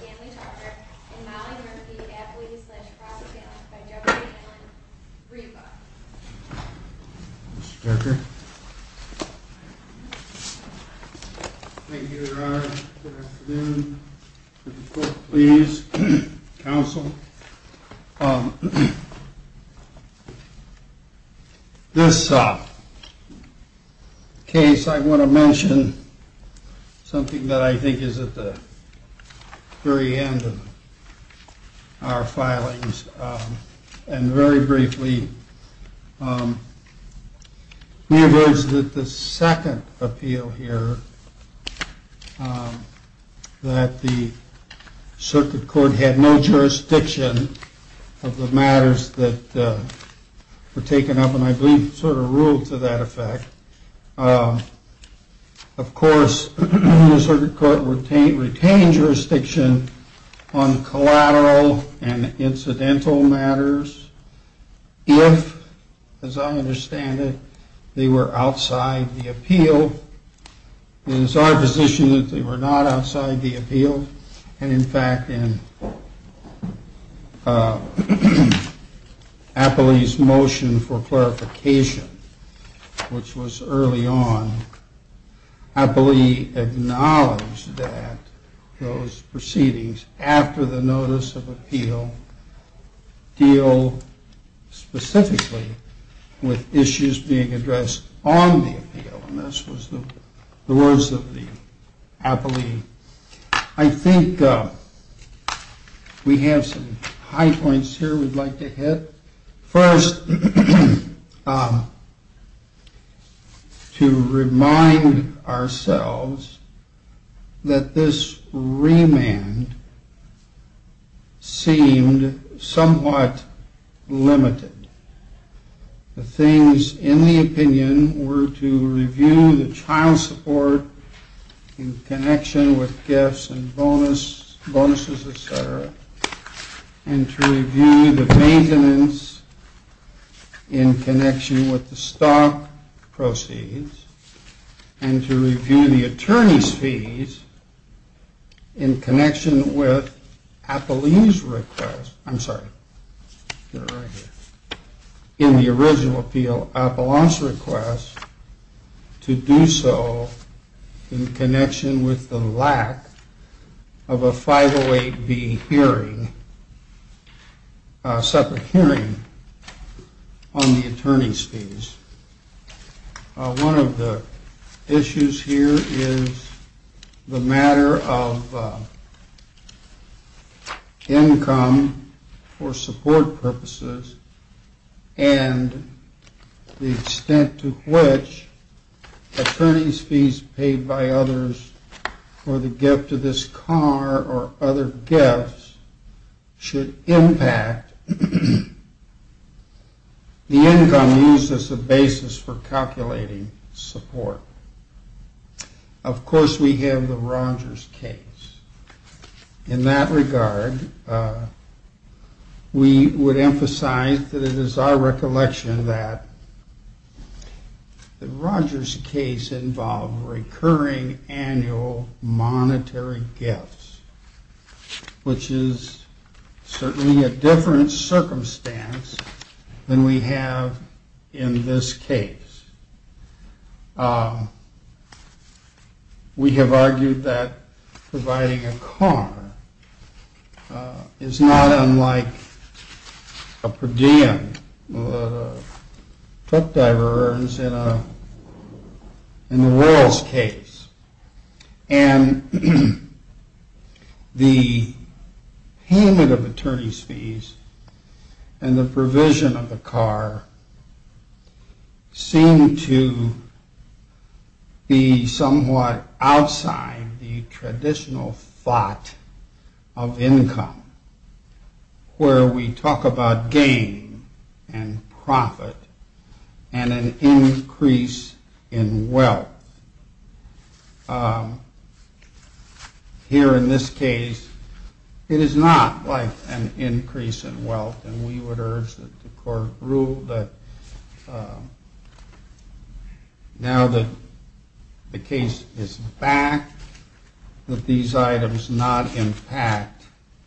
Family Talker and Mollie Murphy athlete slash cross family by Jeffrey Allen Reba. Thank you Your Honor. Good afternoon. Please counsel. This case I want to mention something that I think is at the very end of our filings. And very briefly the second appeal here that the circuit court had no jurisdiction of the matters that were taken up and I believe sort of ruled to that effect. Of course the circuit court retained jurisdiction on collateral and incidental matters if, as I understand it, they were outside the appeal. So it is our position that they were not outside the appeal and in fact in Appley's motion for clarification, which was early on, Appley acknowledged that those proceedings after the notice of appeal deal specifically with issues being addressed on the appeal. And this was the words of the Appley. I think we have some high points here we'd like to hit. First, to remind ourselves that this remand seemed somewhat limited. The things in the opinion were to review the child support in connection with gifts and bonuses, etc., and to review the maintenance in connection with the stock proceeds, and to review the attorney's fees in connection with Appley's request, I'm sorry, in the original appeal, Appelant's request to do so in connection with the lack of a 508B hearing, separate hearing on the attorney's fees. One of the issues here is the matter of income for support purposes and the extent to which attorney's fees paid by others for the gift of this car or other gifts should impact the income used as a bonus. This is a basis for calculating support. Of course, we have the Rogers case. In that regard, we would emphasize that it is our recollection that the Rogers case involved recurring annual monetary gifts, which is certainly a different circumstance than we have in this case. We have argued that providing a car is not unlike a per diem that a truck driver earns in a royals case. And the payment of attorney's fees and the provision of the car seem to be somewhat outside the traditional thought of income, where we talk about gain and profit and an increase in wealth. Here in this case, it is not like an increase in wealth, and we would urge that the court rule that now that the case is back, that these items not impact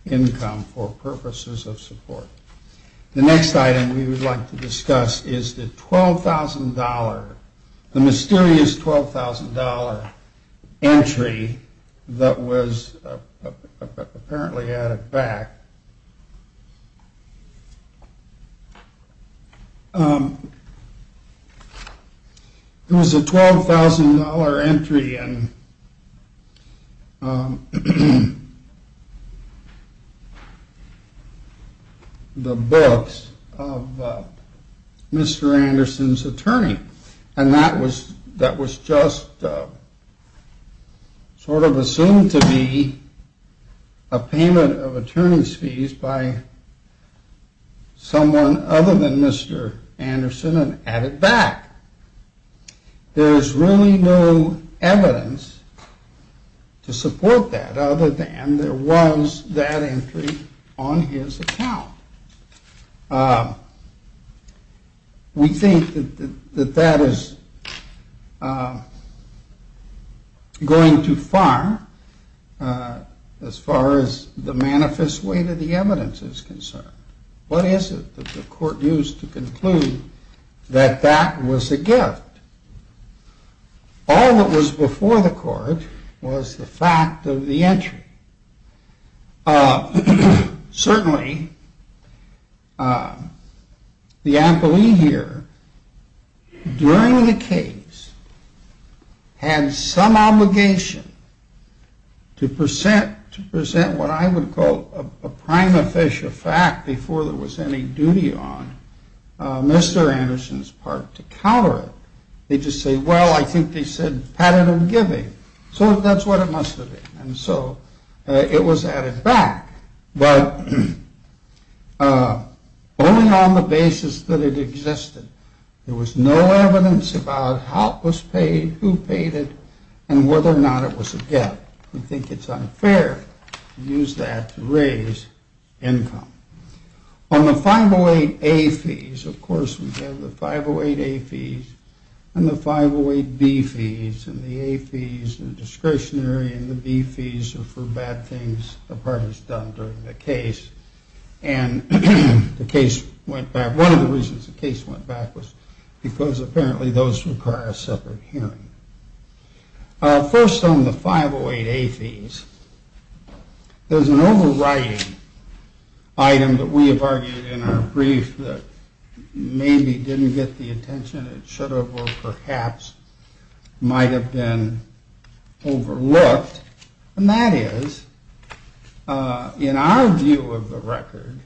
income for purposes of support. The next item we would like to discuss is the mysterious $12,000 entry that was apparently added back. It was a $12,000 entry in the books of Mr. Anderson's attorney. And that was just sort of assumed to be a payment of attorney's fees by someone other than Mr. Anderson and added back. There is really no evidence to support that other than there was that entry on his account. We think that that is going too far as far as the manifest way to the evidence is concerned. What is it that the court used to conclude that that was a gift? All that was before the court was the fact of the entry. Certainly, the employee here during the case had some obligation to present what I would call a prime official fact before there was any duty on Mr. Anderson's part to counter it. They just say, well, I think they said patented giving. So that is what it must have been. So it was added back, but only on the basis that it existed. There was no evidence about how it was paid, who paid it, and whether or not it was a gift. We think it is unfair to use that to raise income. On the 508A fees, of course, we have the 508A fees and the 508B fees and the A fees and the discretionary and the B fees are for bad things a party has done during the case. One of the reasons the case went back was because apparently those require a separate hearing. First on the 508A fees, there is an overriding item that we have argued in our brief that maybe didn't get the attention it should have or perhaps might have been overlooked. And that is, in our view of the record,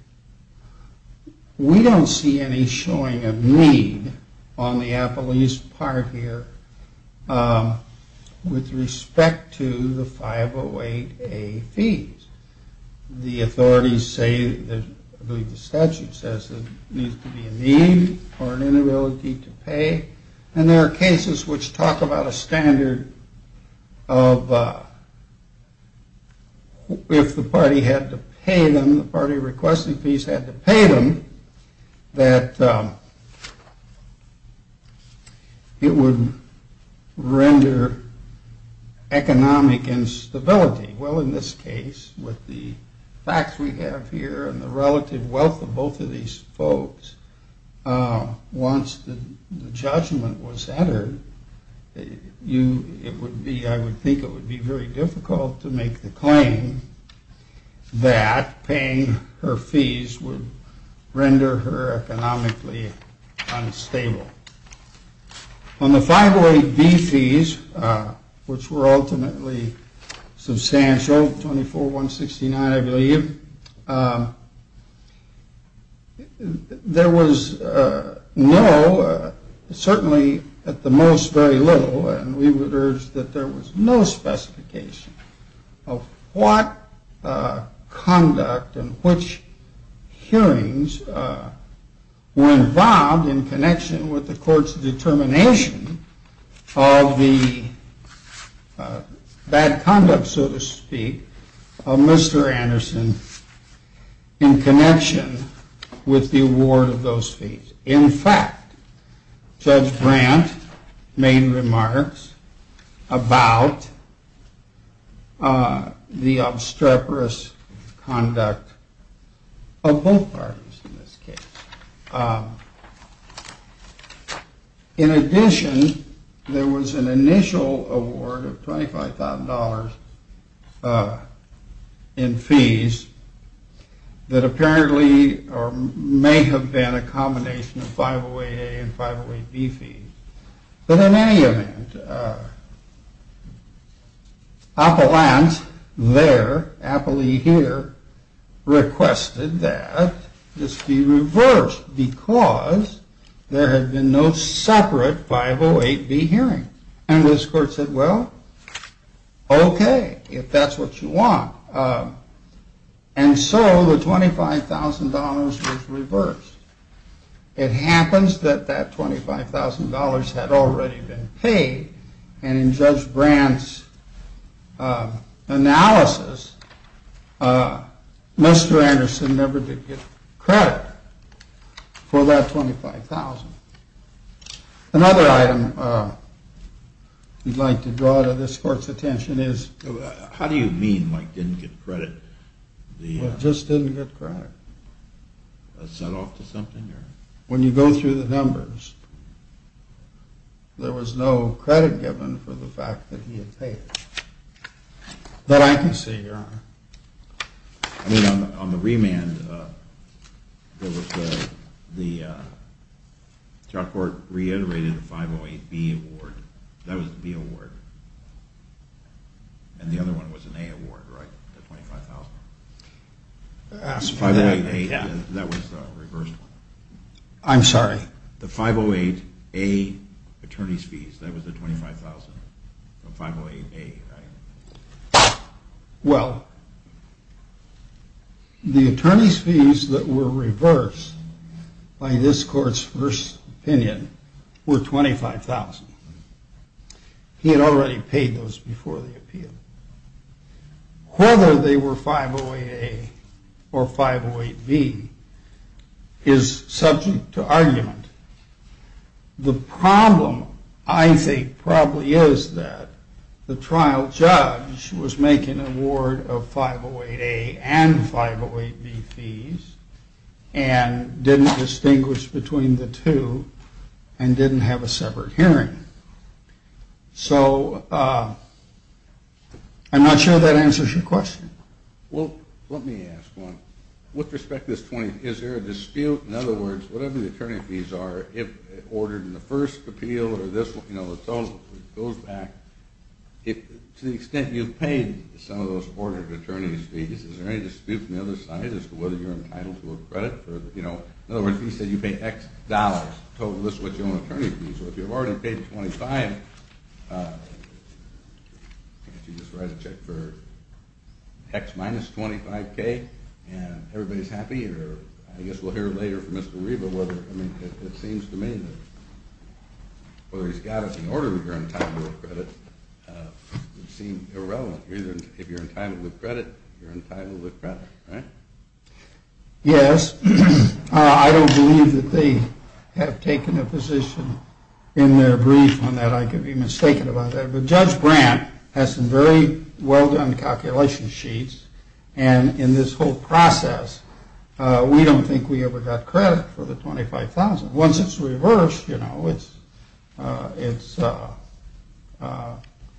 we don't see any showing of need on the appellee's part here with respect to the 508A fees. The authorities say, I believe the statute says there needs to be a need or an inability to pay. And there are cases which talk about a standard of if the party had to pay them, the party requesting fees had to pay them, that it would render economic instability. Well, in this case, with the facts we have here and the relative wealth of both of these folks, once the judgment was uttered, I would think it would be very difficult to make the claim that paying her fees would render her economically unstable. On the 508B fees, which were ultimately substantial, 24169 I believe, there was no, certainly at the most very little, and we would urge that there was no specification of what conduct and which hearings were involved in connection with the court's determination of the bad conduct, so to speak, of Mr. Anderson in connection with the award of those fees. In fact, Judge Brandt made remarks about the obstreperous conduct of both parties in this case. In addition, there was an initial award of $25,000 in fees that apparently may have been a combination of 508A and 508B fees. But in any event, Appellant there, Appley here, requested that this be reversed because there had been no separate 508B hearings. And this court said, well, okay, if that's what you want. And so the $25,000 was reversed. It happens that that $25,000 had already been paid, and in Judge Brandt's analysis, Mr. Anderson never did get credit for that $25,000. Another item we'd like to draw to this court's attention is... How do you mean Mike didn't get credit? Well, it just didn't get credit. When you go through the numbers, there was no credit given for the fact that he had paid it. That I can see, your honor. I mean, on the remand, the trial court reiterated the 508B award. That was the B award. And the other one was an A award, right? The $25,000? That was the reversed one. I'm sorry? The 508A attorney's fees. That was the $25,000 from 508A, right? Well, the attorney's fees that were reversed by this court's first opinion were $25,000. He had already paid those before the appeal. Whether they were 508A or 508B is subject to argument. The problem, I think, probably is that the trial judge was making an award of 508A and 508B fees, and didn't distinguish between the two, and didn't have a separate hearing. So, I'm not sure that answers your question. Well, let me ask one. With respect to this 20, is there a dispute? In other words, whatever the attorney fees are, if ordered in the first appeal or this one, you know, the total, it goes back, to the extent you've paid some of those ordered attorney's fees, is there any dispute from the other side as to whether you're entitled to a credit? In other words, if he said you pay X dollars, the total is what your own attorney fees are. If you've already paid 25, I guess you just write a check for X minus 25K, and everybody's happy, or I guess we'll hear later from Mr. Reba whether, I mean, it seems to me that whether he's got it in order that you're entitled to a credit would seem irrelevant. If you're entitled to credit, you're entitled to credit, right? Yes. I don't believe that they have taken a position in their brief on that. I could be mistaken about that. Judge Brandt has some very well done calculation sheets, and in this whole process, we don't think we ever got credit for the 25,000. Once it's reversed, you know, it's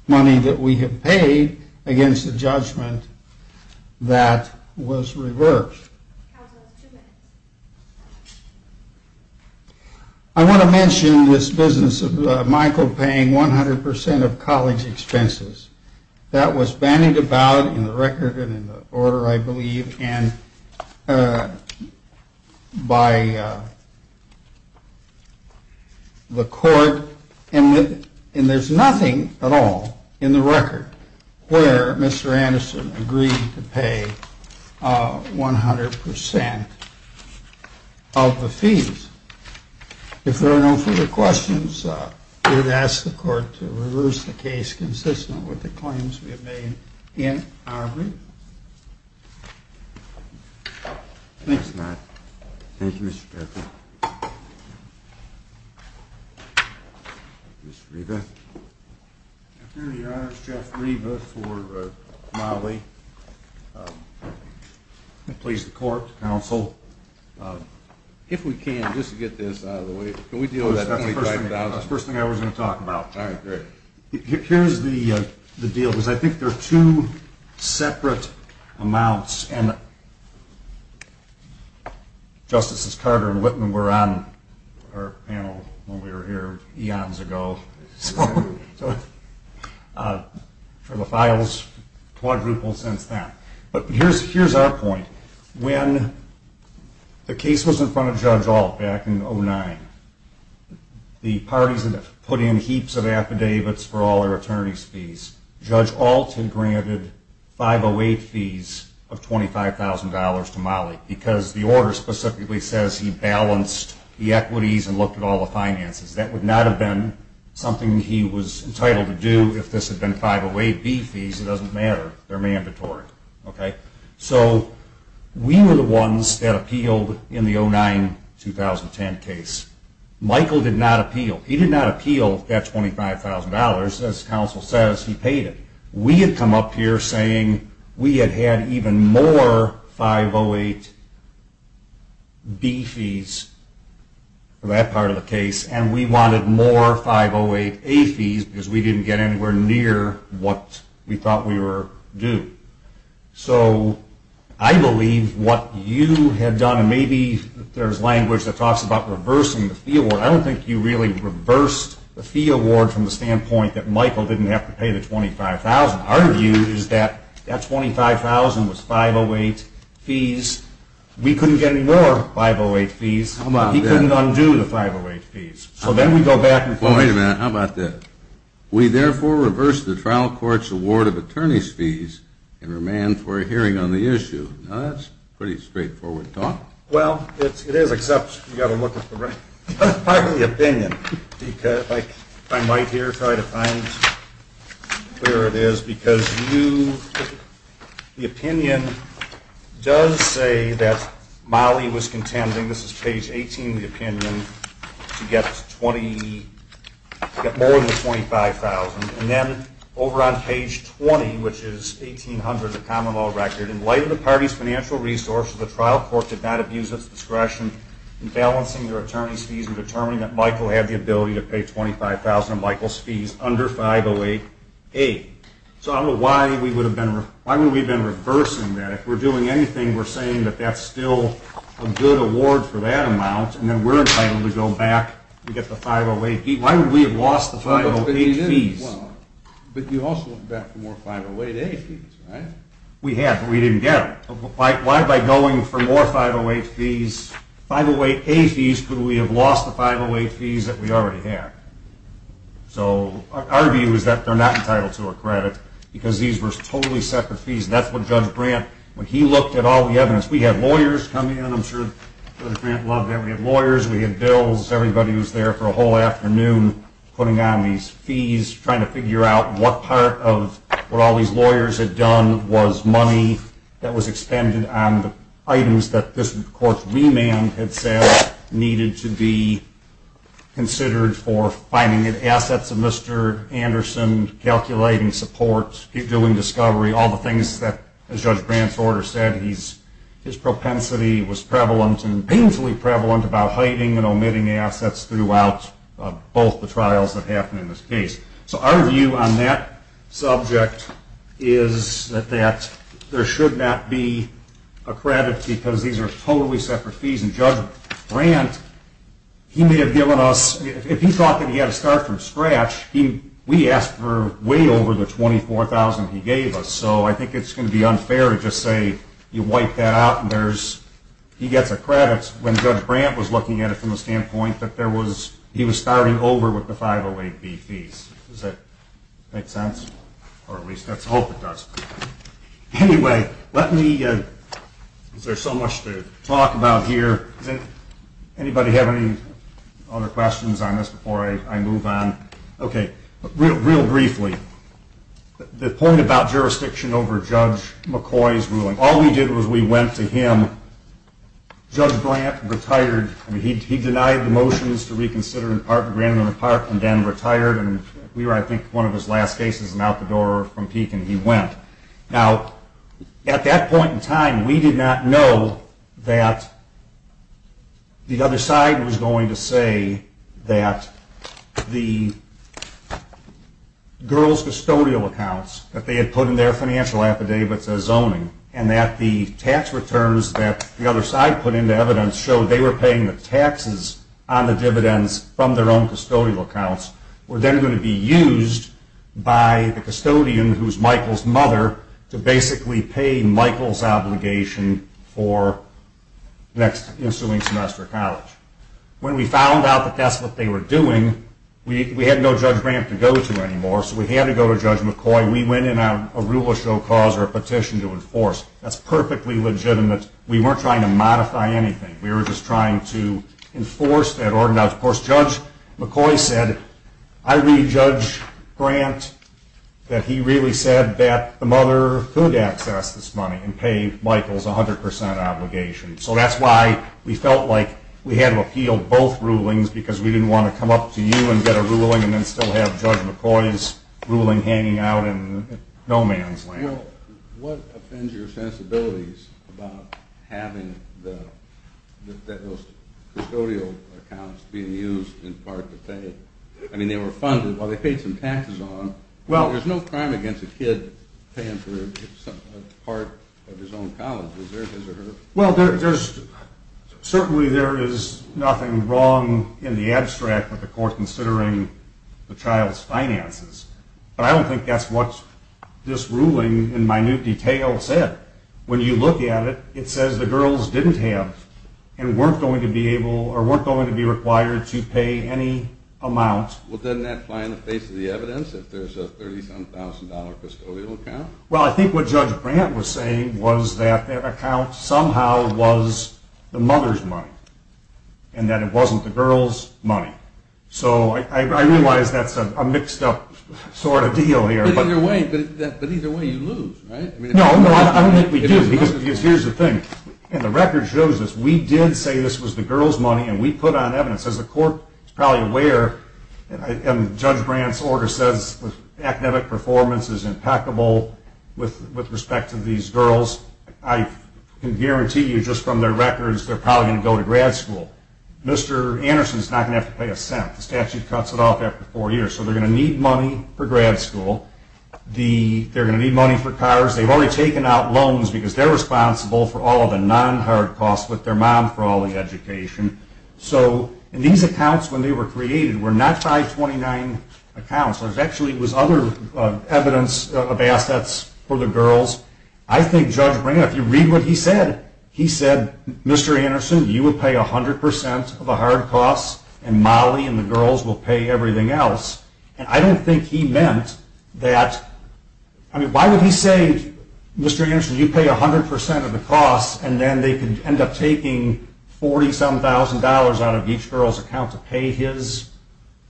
money that we have paid against a judgment that was reversed. Counsel, two minutes. I want to mention this business of Michael paying 100% of college expenses. That was bandied about in the record and in the order, I believe, and by the court, and there's nothing at all in the record where Mr. Anderson agreed to pay 100% of the fees. If there are no further questions, I would ask the court to reverse the case consistent with the claims we have made in our brief. Thanks, Matt. Thank you, Mr. Jeffery. Mr. Reba. Your Honor, it's Jeff Reba for Molly. I'm pleased to court, counsel. If we can, just to get this out of the way, can we deal with that? First thing I was going to talk about. Here's the deal, because I think there are two separate amounts, and Justices Carter and Whitman were on our panel when we were here eons ago, so the file has quadrupled since then. But here's our point. When the case was in front of Judge Ault back in 2009, the parties had put in heaps of affidavits for all their attorneys' fees. Judge Ault had granted 508 fees of $25,000 to Molly because the order specifically says he balanced the equities and looked at all the finances. That would not have been something he was entitled to do if this had been 508B fees. It doesn't matter. They're mandatory. So we were the ones that appealed in the 2009-2010 case. Michael did not appeal. He did not appeal that $25,000. As counsel says, he paid it. We had come up here saying we had had even more 508B fees for that part of the case, and we wanted more 508A fees because we didn't get anywhere near what we thought we were due. So I believe what you had done, and maybe there's language that talks about reversing the fee award. I don't think you really reversed the fee award from the standpoint that Michael didn't have to pay the $25,000. Our view is that $25,000 was 508 fees. We couldn't get any more 508 fees. He couldn't undo the 508 fees. Well, wait a minute. How about this? We therefore reverse the trial court's award of attorney's fees and remand for a hearing on the issue. Now, that's pretty straightforward talk. Well, it is, except you've got to look at the right part of the opinion. If I might here, try to find where it is. Because the opinion does say that Mollie was contending, this is page 18 of the opinion, to get more than the $25,000. And then over on page 20, which is 1800, the common law record, in light of the party's financial resources, the trial court did not abuse its discretion in balancing their attorney's fees and determining that Michael had the ability to pay $25,000 of Michael's fees under 508A. So I don't know why we would have been reversing that. If we're doing anything, we're saying that that's still a good award for that amount, and then we're entitled to go back and get the 508. Why would we have lost the 508 fees? But you also went back for more 508A fees, right? We had, but we didn't get them. Why, by going for more 508 fees, 508A fees, could we have lost the 508 fees that we already had? So our view is that they're not entitled to our credit, because these were totally separate fees. That's what Judge Brandt, when he looked at all the evidence, we had lawyers come in. I'm sure Judge Brandt loved that. We had lawyers, we had bills, everybody was there for a whole afternoon putting on these fees, trying to figure out what part of what all these lawyers had done was money that was expended on the items that this court's remand had said needed to be considered for finding the assets of Mr. Anderson, calculating support, doing discovery, all the things that, as Judge Brandt's order said, his propensity was prevalent and painfully prevalent about hiding and omitting assets throughout both the trials that happened in this case. So our view on that subject is that there should not be a credit, because these are totally separate fees. And Judge Brandt, he may have given us, if he thought that he had to start from scratch, we asked for way over the $24,000 he gave us. So I think it's going to be unfair to just say, you wipe that out, and he gets a credit. I think that's when Judge Brandt was looking at it from the standpoint that he was starting over with the 508B fees. Does that make sense? Or at least let's hope it does. Anyway, let me – is there so much to talk about here? Does anybody have any other questions on this before I move on? Okay, real briefly, the point about jurisdiction over Judge McCoy's ruling, all we did was we went to him. Judge Brandt retired. He denied the motions to reconsider in part, granted them in part, and then retired. And we were, I think, one of his last cases, and out the door from Peek, and he went. Now, at that point in time, we did not know that the other side was going to say that the girls' custodial accounts that they had put in their financial affidavits as zoning, and that the tax returns that the other side put into evidence showed they were paying the taxes on the dividends from their own custodial accounts, were then going to be used by the custodian, who was Michael's mother, to basically pay Michael's obligation for the next ensuing semester of college. When we found out that that's what they were doing, we had no Judge Brandt to go to anymore, so we had to go to Judge McCoy. We went in on a rule of show cause or a petition to enforce. That's perfectly legitimate. We weren't trying to modify anything. We were just trying to enforce that order. Now, of course, Judge McCoy said, I read Judge Brandt that he really said that the mother could access this money and pay Michael's 100 percent obligation. So that's why we felt like we had to appeal both rulings, because we didn't want to come up to you and get a ruling and then still have Judge McCoy's ruling hanging out in no man's land. Well, what offends your sensibilities about having those custodial accounts being used in part to pay? I mean, they were funded. Well, they paid some taxes on them. There's no crime against a kid paying for part of his own college. Is there? Well, certainly there is nothing wrong in the abstract with the court considering the child's finances, but I don't think that's what this ruling in minute detail said. When you look at it, it says the girls didn't have and weren't going to be able or weren't going to be required to pay any amount. Well, doesn't that apply in the face of the evidence if there's a $37,000 custodial account? Well, I think what Judge Brandt was saying was that that account somehow was the mother's money and that it wasn't the girl's money. So I realize that's a mixed-up sort of deal here. But either way, you lose, right? No, I don't think we do, because here's the thing. The record shows us we did say this was the girl's money, and we put on evidence. As the court is probably aware, and Judge Brandt's order says academic performance is impeccable with respect to these girls, I can guarantee you just from their records they're probably going to go to grad school. Mr. Anderson is not going to have to pay a cent. The statute cuts it off after four years. So they're going to need money for grad school. They're going to need money for cars. They've already taken out loans because they're responsible for all of the non-hard costs with their mom for all the education. So these accounts, when they were created, were not 529 accounts. There actually was other evidence of assets for the girls. I think Judge Brandt, if you read what he said, he said, Mr. Anderson, you will pay 100% of the hard costs, and Molly and the girls will pay everything else. And I don't think he meant that. I mean, why would he say, Mr. Anderson, you pay 100% of the costs, and then they could end up taking $47,000 out of each girl's account to pay his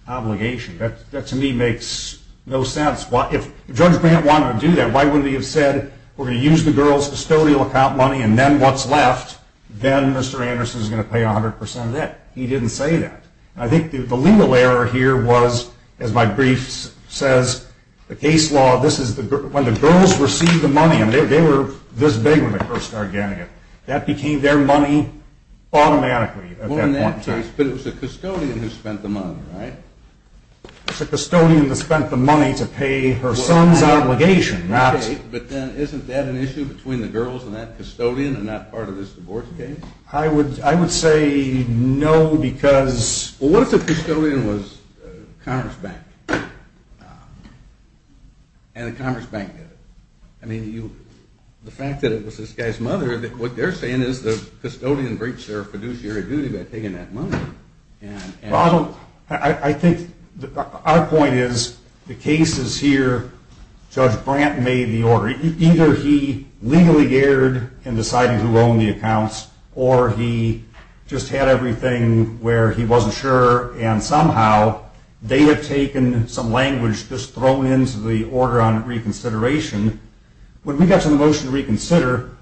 obligation? That, to me, makes no sense. If Judge Brandt wanted to do that, why wouldn't he have said, we're going to use the girls' custodial account money and then what's left, then Mr. Anderson is going to pay 100% of that? He didn't say that. I think the legal error here was, as my brief says, the case law, when the girls received the money, and they were this big when they first started getting it, that became their money automatically at that point in time. Well, in that case, but it was the custodian who spent the money, right? It was the custodian who spent the money to pay her son's obligation. Okay, but then isn't that an issue between the girls and that custodian and that part of this divorce case? I would say no because… Well, what if the custodian was the Commerce Bank, and the Commerce Bank did it? I mean, the fact that it was this guy's mother, what they're saying is the custodian breached their fiduciary duty by taking that money. I think our point is, the case is here, Judge Brandt made the order. Either he legally erred in deciding who owned the accounts, or he just had everything where he wasn't sure, and somehow they have taken some language just thrown into the order on reconsideration. When we got to the motion to reconsider,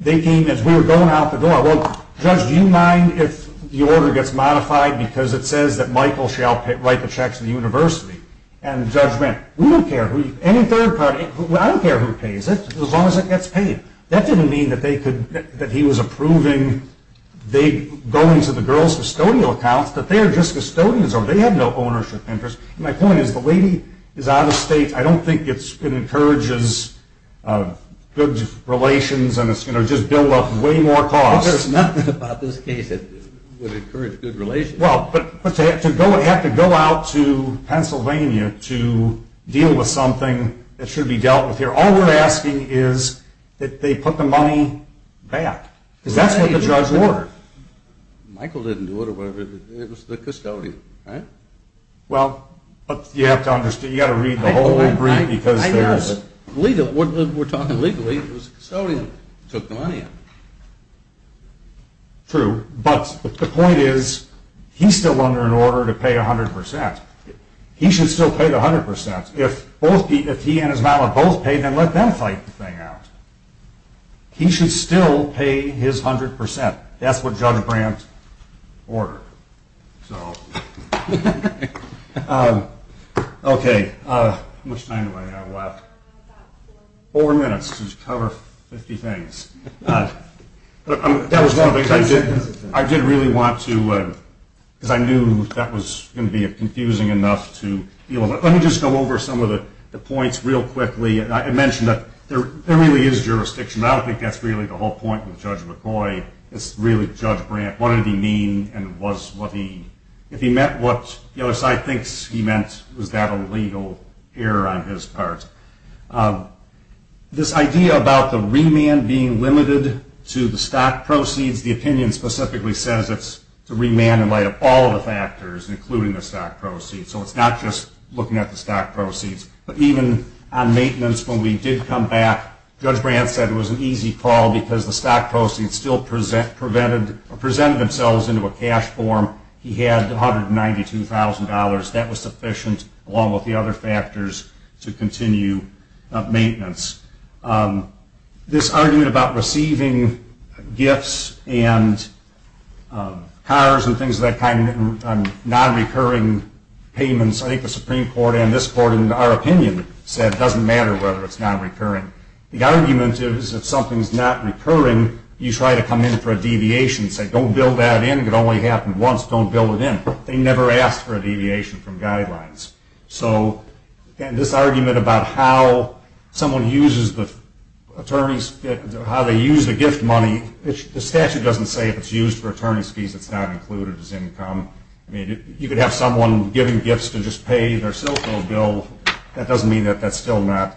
they came as we were going out the door. Well, Judge, do you mind if the order gets modified because it says that Michael shall write the checks to the university? We don't care who, any third party, I don't care who pays it, as long as it gets paid. That didn't mean that he was approving going to the girls' custodial accounts, that they're just custodians, or they have no ownership interest. My point is, the lady is out of state. I don't think it's going to encourage good relations, and it's going to just build up way more costs. There's nothing about this case that would encourage good relations. Well, but to have to go out to Pennsylvania to deal with something that should be dealt with here, all we're asking is that they put the money back. Because that's what the judge ordered. Michael didn't do it or whatever, it was the custodian, right? Well, but you have to understand, you've got to read the whole brief because there's... I know, but legally, what we're talking legally, it was the custodian who took the money out. True, but the point is, he's still under an order to pay 100%. He should still pay the 100%. If he and his mallet both pay, then let them fight the thing out. He should still pay his 100%. That's what Judge Brandt ordered. Okay, how much time do I have left? Four minutes to cover 50 things. That was one of the things I did really want to... because I knew that was going to be confusing enough to deal with. Let me just go over some of the points real quickly. I mentioned that there really is jurisdiction. I don't think that's really the whole point with Judge McCoy. It's really Judge Brandt. What did he mean and was what he... If he meant what the other side thinks he meant, was that a legal error on his part? This idea about the remand being limited to the stock proceeds, the opinion specifically says it's to remand in light of all the factors, including the stock proceeds. So it's not just looking at the stock proceeds. But even on maintenance, when we did come back, Judge Brandt said it was an easy call because the stock proceeds still presented themselves into a cash form. He had $192,000. That was sufficient, along with the other factors, to continue maintenance. This argument about receiving gifts and cars and things of that kind and non-recurring payments, I think the Supreme Court and this Court, in our opinion, said it doesn't matter whether it's non-recurring. The argument is if something's not recurring, you try to come in for a deviation. Say, don't bill that in. It only happened once. Don't bill it in. They never asked for a deviation from guidelines. So, again, this argument about how someone uses the attorney's fees, how they use the gift money, the statute doesn't say if it's used for attorney's fees, it's not included as income. I mean, you could have someone giving gifts to just pay their cell phone bill. All right.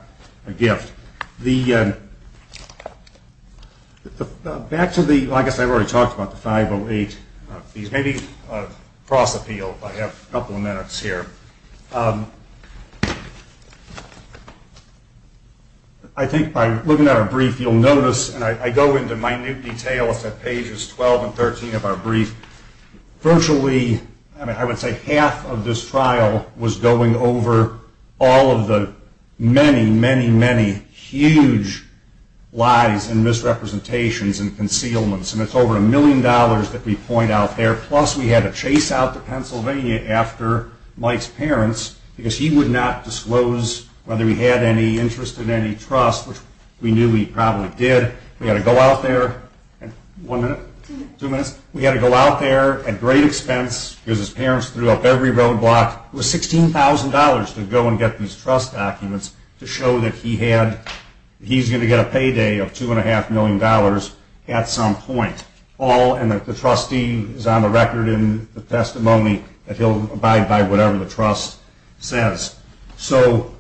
Back to the, I guess I've already talked about the 508, maybe cross-appeal if I have a couple of minutes here. I think by looking at our brief, you'll notice, and I go into minute detail, it's at pages 12 and 13 of our brief, virtually, I mean, I would say half of this trial was going over all of the many, many, many huge lies and misrepresentations and concealments. And it's over a million dollars that we point out there, plus we had to chase out to Pennsylvania after Mike's parents because he would not disclose whether he had any interest in any trust, which we knew he probably did. We had to go out there, one minute, two minutes, we had to go out there at great expense because his parents threw up every roadblock. It was $16,000 to go and get these trust documents to show that he had, he's going to get a payday of $2.5 million at some point, and that the trustee is on the record in the testimony that he'll abide by whatever the trust says. So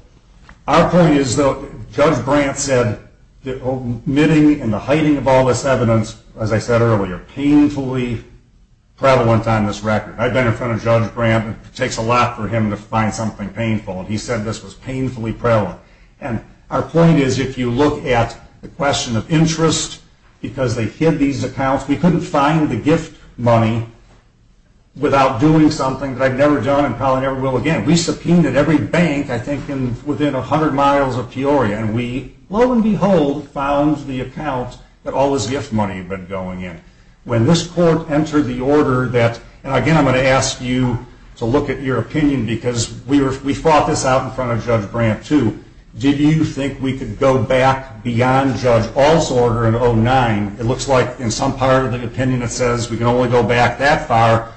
our point is, though, Judge Brandt said that omitting and the hiding of all this evidence, as I said earlier, painfully prevalent on this record. I've been in front of Judge Brandt. It takes a lot for him to find something painful, and he said this was painfully prevalent. And our point is, if you look at the question of interest, because they hid these accounts, we couldn't find the gift money without doing something that I've never done and probably never will again. We subpoenaed every bank, I think, within 100 miles of Peoria, and we, lo and behold, found the account that all this gift money had been going in. When this court entered the order that, and again, I'm going to ask you to look at your opinion, because we fought this out in front of Judge Brandt, too. Did you think we could go back beyond Judge All's order in 2009? It looks like in some part of the opinion it says we can only go back that far,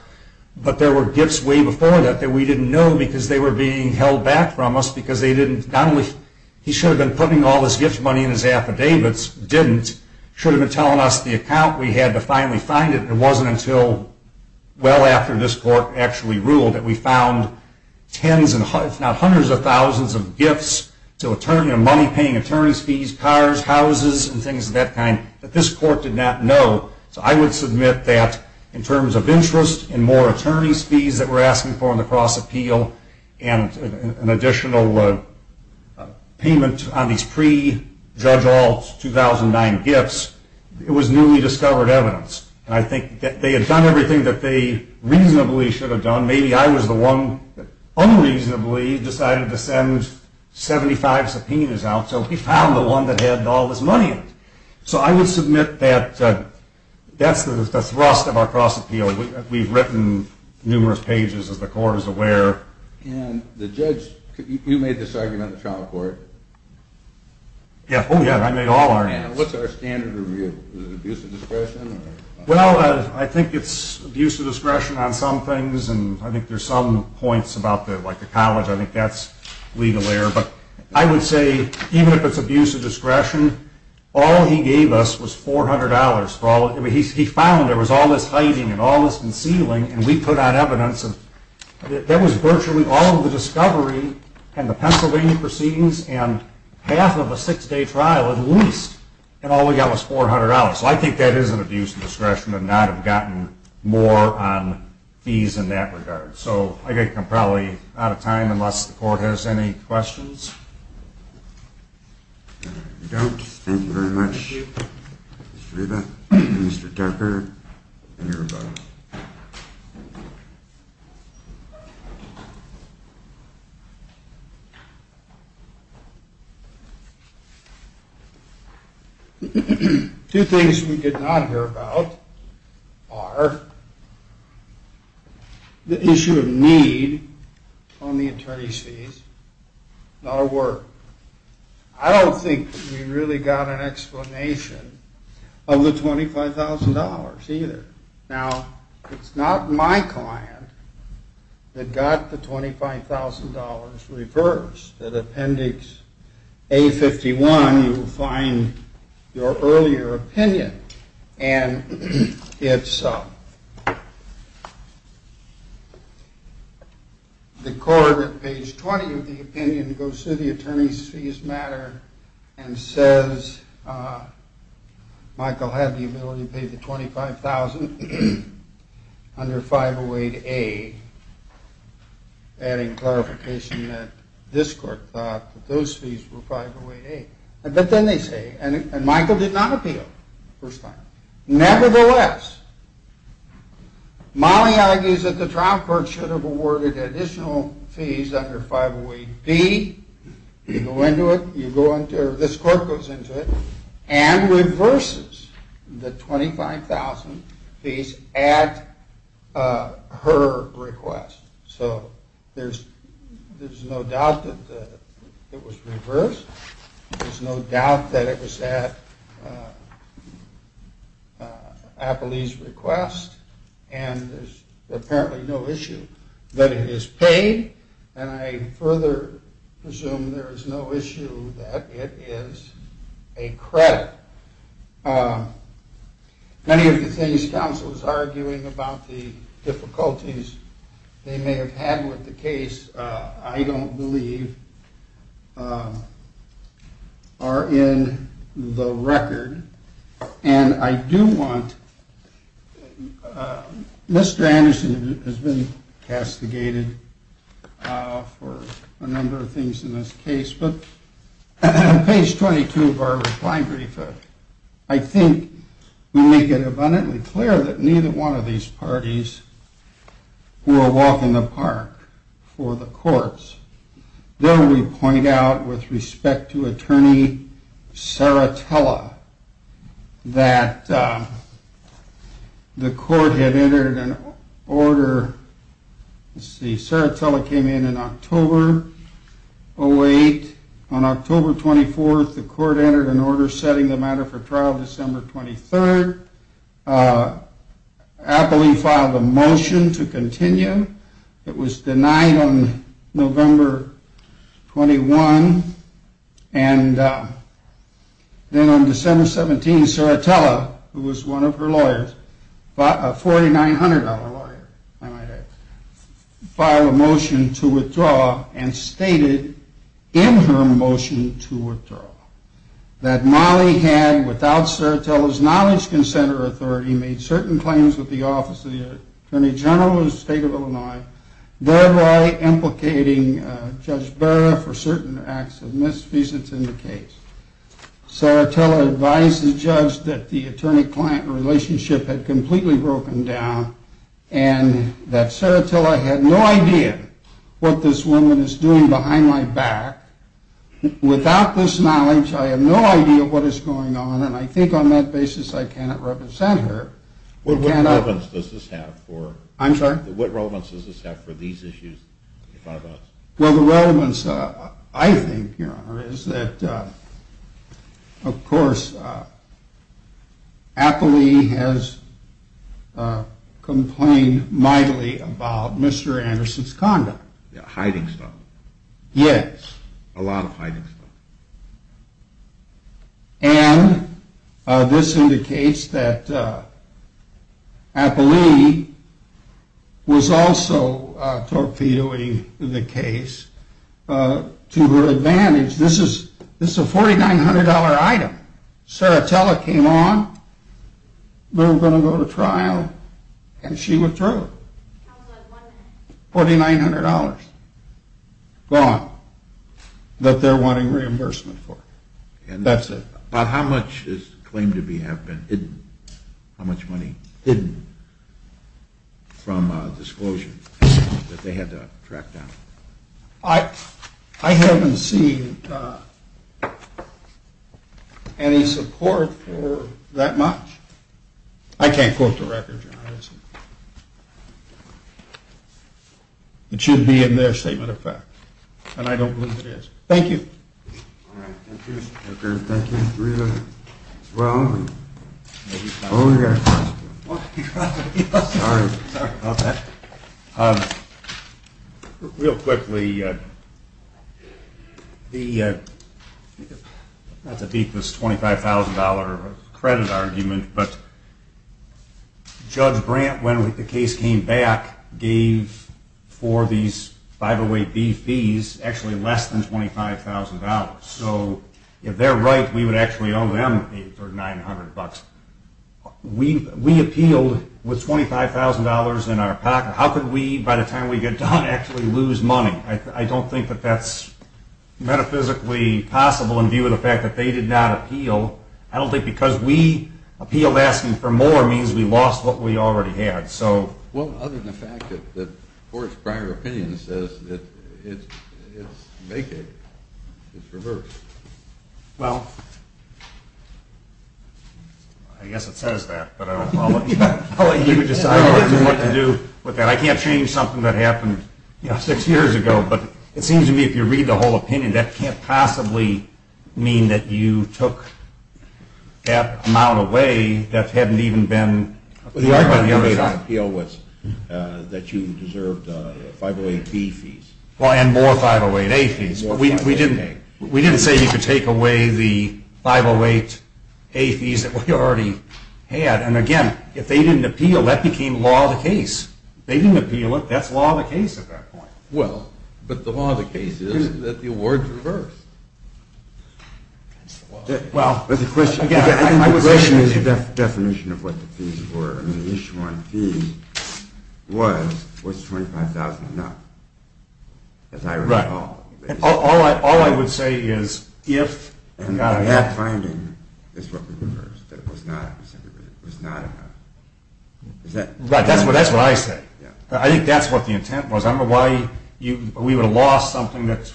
but there were gifts way before that that we didn't know because they were being held back from us because they didn't, not only he should have been putting all this gift money in his affidavits, didn't, should have been telling us the account. We had to finally find it. It wasn't until well after this court actually ruled that we found tens, if not hundreds of thousands of gifts, money paying attorney's fees, cars, houses, and things of that kind, that this court did not know. So I would submit that in terms of interest and more attorney's fees that we're asking for in the cross-appeal and an additional payment on these pre-Judge All's 2009 gifts, it was newly discovered evidence. And I think that they had done everything that they reasonably should have done. Maybe I was the one that unreasonably decided to send 75 subpoenas out, so we found the one that had all this money in it. So I would submit that that's the thrust of our cross-appeal. We've written numerous pages, as the court is aware. And the judge, you made this argument in the trial court. Oh, yeah, I made all our arguments. What's our standard review? Is it abuse of discretion? Well, I think it's abuse of discretion on some things, and I think there's some points about the college. I think that's legal error. But I would say even if it's abuse of discretion, all he gave us was $400. He found there was all this hiding and all this concealing, and we put out evidence. That was virtually all of the discovery and the Pennsylvania proceedings and half of a six-day trial at least, and all we got was $400. So I think that is an abuse of discretion and not have gotten more on fees in that regard. So I think I'm probably out of time unless the court has any questions. No, we don't. Thank you very much, Mr. Reba, Mr. Tucker, and everybody. Two things we did not hear about are the issue of need on the attorney's fees, not a word. I don't think we really got an explanation of the $25,000 either. Now, it's not my client that got the $25,000 reversed. At Appendix A51, you will find your earlier opinion, and it's the court at page 20 of the opinion goes through the attorney's fees matter and says Michael had the ability to pay the $25,000 under 508A, adding clarification that this court thought that those fees were 508A. But then they say, and Michael did not appeal the first time. Nevertheless, Molly argues that the trial court should have awarded additional fees under 508B. You go into it, or this court goes into it, and reverses the $25,000 fees at her request. So there's no doubt that it was reversed. There's no doubt that it was at Appilee's request. And there's apparently no issue that it is paid. And I further presume there is no issue that it is a credit. But many of the things counsel is arguing about, the difficulties they may have had with the case, I don't believe are in the record. And I do want, Mr. Anderson has been castigated for a number of things in this case. But page 22 of our reply brief, I think we make it abundantly clear that neither one of these parties were a walk in the park for the courts. Then we point out with respect to attorney Saratella that the court had entered an order, let's see, Saratella came in in October, 08. On October 24th, the court entered an order setting the matter for trial December 23rd. Appilee filed a motion to continue. It was denied on November 21. And then on December 17, Saratella, who was one of her lawyers, a $4,900 lawyer I might add, filed a motion to withdraw and stated in her motion to withdraw that Molly had, without Saratella's knowledge, consent, or authority, made certain claims with the office of the attorney general in the state of Illinois, thereby implicating Judge Barra for certain acts of misdemeanors in the case. Saratella advised the judge that the attorney-client relationship had completely broken down and that Saratella had no idea what this woman is doing behind my back. Without this knowledge, I have no idea what is going on, and I think on that basis I cannot represent her. What relevance does this have for these issues? Well, the relevance, I think, Your Honor, is that, of course, Appilee has complained mightily about Mr. Anderson's conduct. Hiding stuff. Yes. A lot of hiding stuff. And this indicates that Appilee was also torpedoing the case to her advantage. This is a $4,900 item. Saratella came on. We were going to go to trial, and she withdrew. $4,900. Gone. That they're wanting reimbursement for. That's it. But how much is claimed to have been hidden? How much money hidden from disclosure that they had to track down? I haven't seen any support for that much. I can't quote the record, Your Honor. It should be in their statement of fact, and I don't believe it is. Thank you. Thank you. Thank you. Well, we've got a question. Sorry about that. Real quickly, not to beat this $25,000 credit argument, but Judge Brandt, when the case came back, gave for these 508B fees actually less than $25,000. So if they're right, we would actually owe them $3,900. We appealed with $25,000 in our pocket. How could we, by the time we get done, actually lose money? I don't think that that's metaphysically possible in view of the fact that they did not appeal. I don't think because we appealed asking for more means we lost what we already had. Well, other than the fact that the Court's prior opinion says it's vacated, it's reversed. Well, I guess it says that. I'll let you decide what to do with that. I can't change something that happened six years ago, but it seems to me if you read the whole opinion, that can't possibly mean that you took that amount away that hadn't even been acquired by the other side. The argument you made on appeal was that you deserved 508B fees. Well, and more 508A fees. We didn't say you could take away the 508A fees that we already had. And again, if they didn't appeal, that became law of the case. They didn't appeal it. That's law of the case at that point. Well, but the law of the case is that the award's reversed. The question is the definition of what the fees were. The issue on fees was, was $25,000 enough? As I recall. Right. All I would say is if and not if. And that finding is what we reversed, that it was not enough. Right. That's what I say. I think that's what the intent was. I don't know why we would have lost something that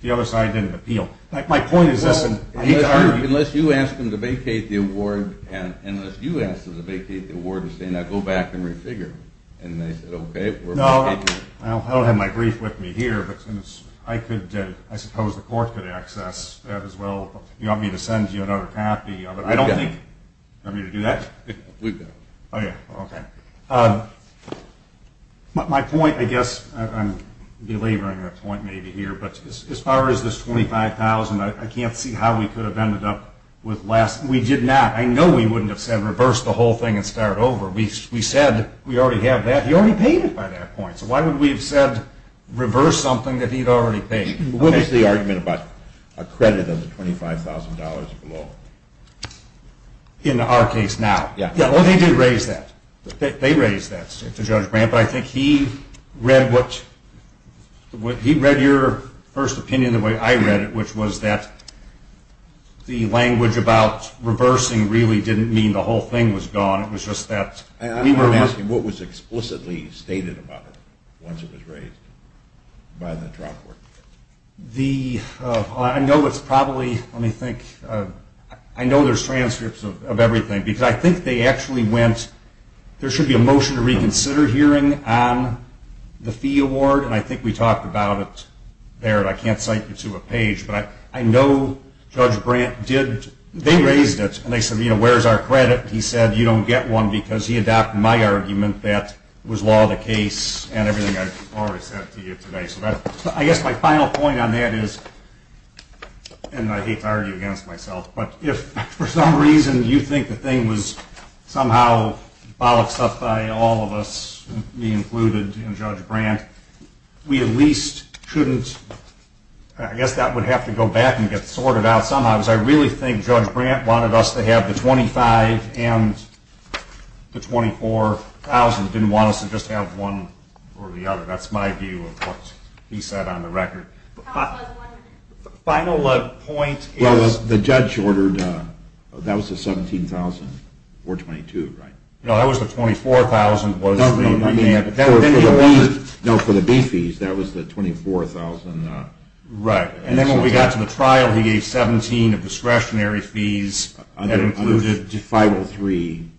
the other side didn't appeal. My point is this. Unless you asked them to vacate the award, and unless you asked them to vacate the award and say, now go back and refigure, and they said, okay, we're vacating it. Well, I don't have my brief with me here, but I suppose the court could access that as well. Do you want me to send you another copy of it? I don't think. Do you want me to do that? We've got it. Oh, yeah. Okay. My point, I guess, I'm belaboring that point maybe here, but as far as this $25,000, I can't see how we could have ended up with less. We did not. I know we wouldn't have said reverse the whole thing and start over. We said we already have that. He already paid it by that point, so why would we have said reverse something that he'd already paid? What was the argument about a credit of the $25,000 or below? In our case now. Yeah, well, they did raise that. They raised that to Judge Grant, but I think he read your first opinion the way I read it, which was that the language about reversing really didn't mean the whole thing was gone. I'm asking what was explicitly stated about it once it was raised by the trial court. I know it's probably, let me think, I know there's transcripts of everything, because I think they actually went, there should be a motion to reconsider hearing on the fee award, and I think we talked about it there, and I can't cite you to a page, but I know Judge Grant did, they raised it, and they said, you know, where's our credit? He said you don't get one because he adopted my argument that was law of the case and everything I've already said to you today. So I guess my final point on that is, and I hate to argue against myself, but if for some reason you think the thing was somehow bollocksed up by all of us, me included and Judge Grant, we at least shouldn't, I guess that would have to go back and get sorted out somehow, because I really think Judge Grant wanted us to have the $25,000 and the $24,000, didn't want us to just have one or the other. That's my view of what he said on the record. Final point is... Well, the judge ordered, that was the $17,000, or $22,000, right? No, that was the $24,000. No, for the B fees, that was the $24,000. Right. And then when we got to the trial, he gave $17,000 of discretionary fees. That included 503A.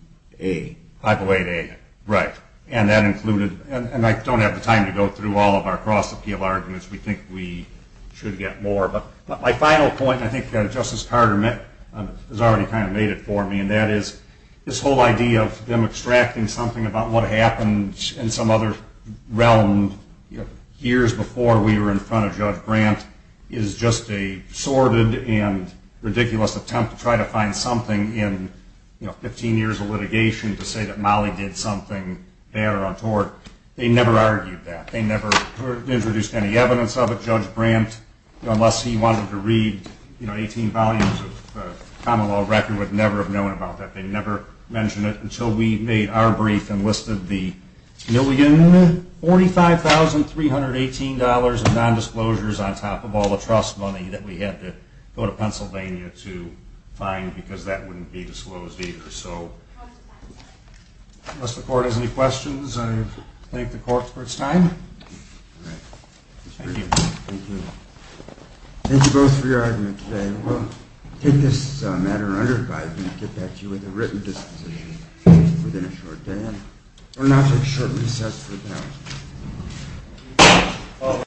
508A, right. And that included, and I don't have the time to go through all of our cross-appeal arguments. We think we should get more. But my final point, and I think Justice Carter has already kind of made it for me, and that is this whole idea of them extracting something about what happened in some other realm years before we were in front of Judge Grant is just a sordid and ridiculous attempt to try to find something in 15 years of litigation to say that Molly did something bad or untoward. They never argued that. They never introduced any evidence of it. Judge Grant, unless he wanted to read 18 volumes of common law record, would never have known about that. They never mentioned it until we made our brief and listed the $1,045,318 of nondisclosures on top of all the trust money that we had to go to Pennsylvania to find because that wouldn't be disclosed either. So unless the Court has any questions, I thank the Court for its time. All right. Thank you. Thank you. Thank you both for your argument today. We'll take this matter under advice and get back to you with a written disposition within a short time. We'll now take short recess for the panel.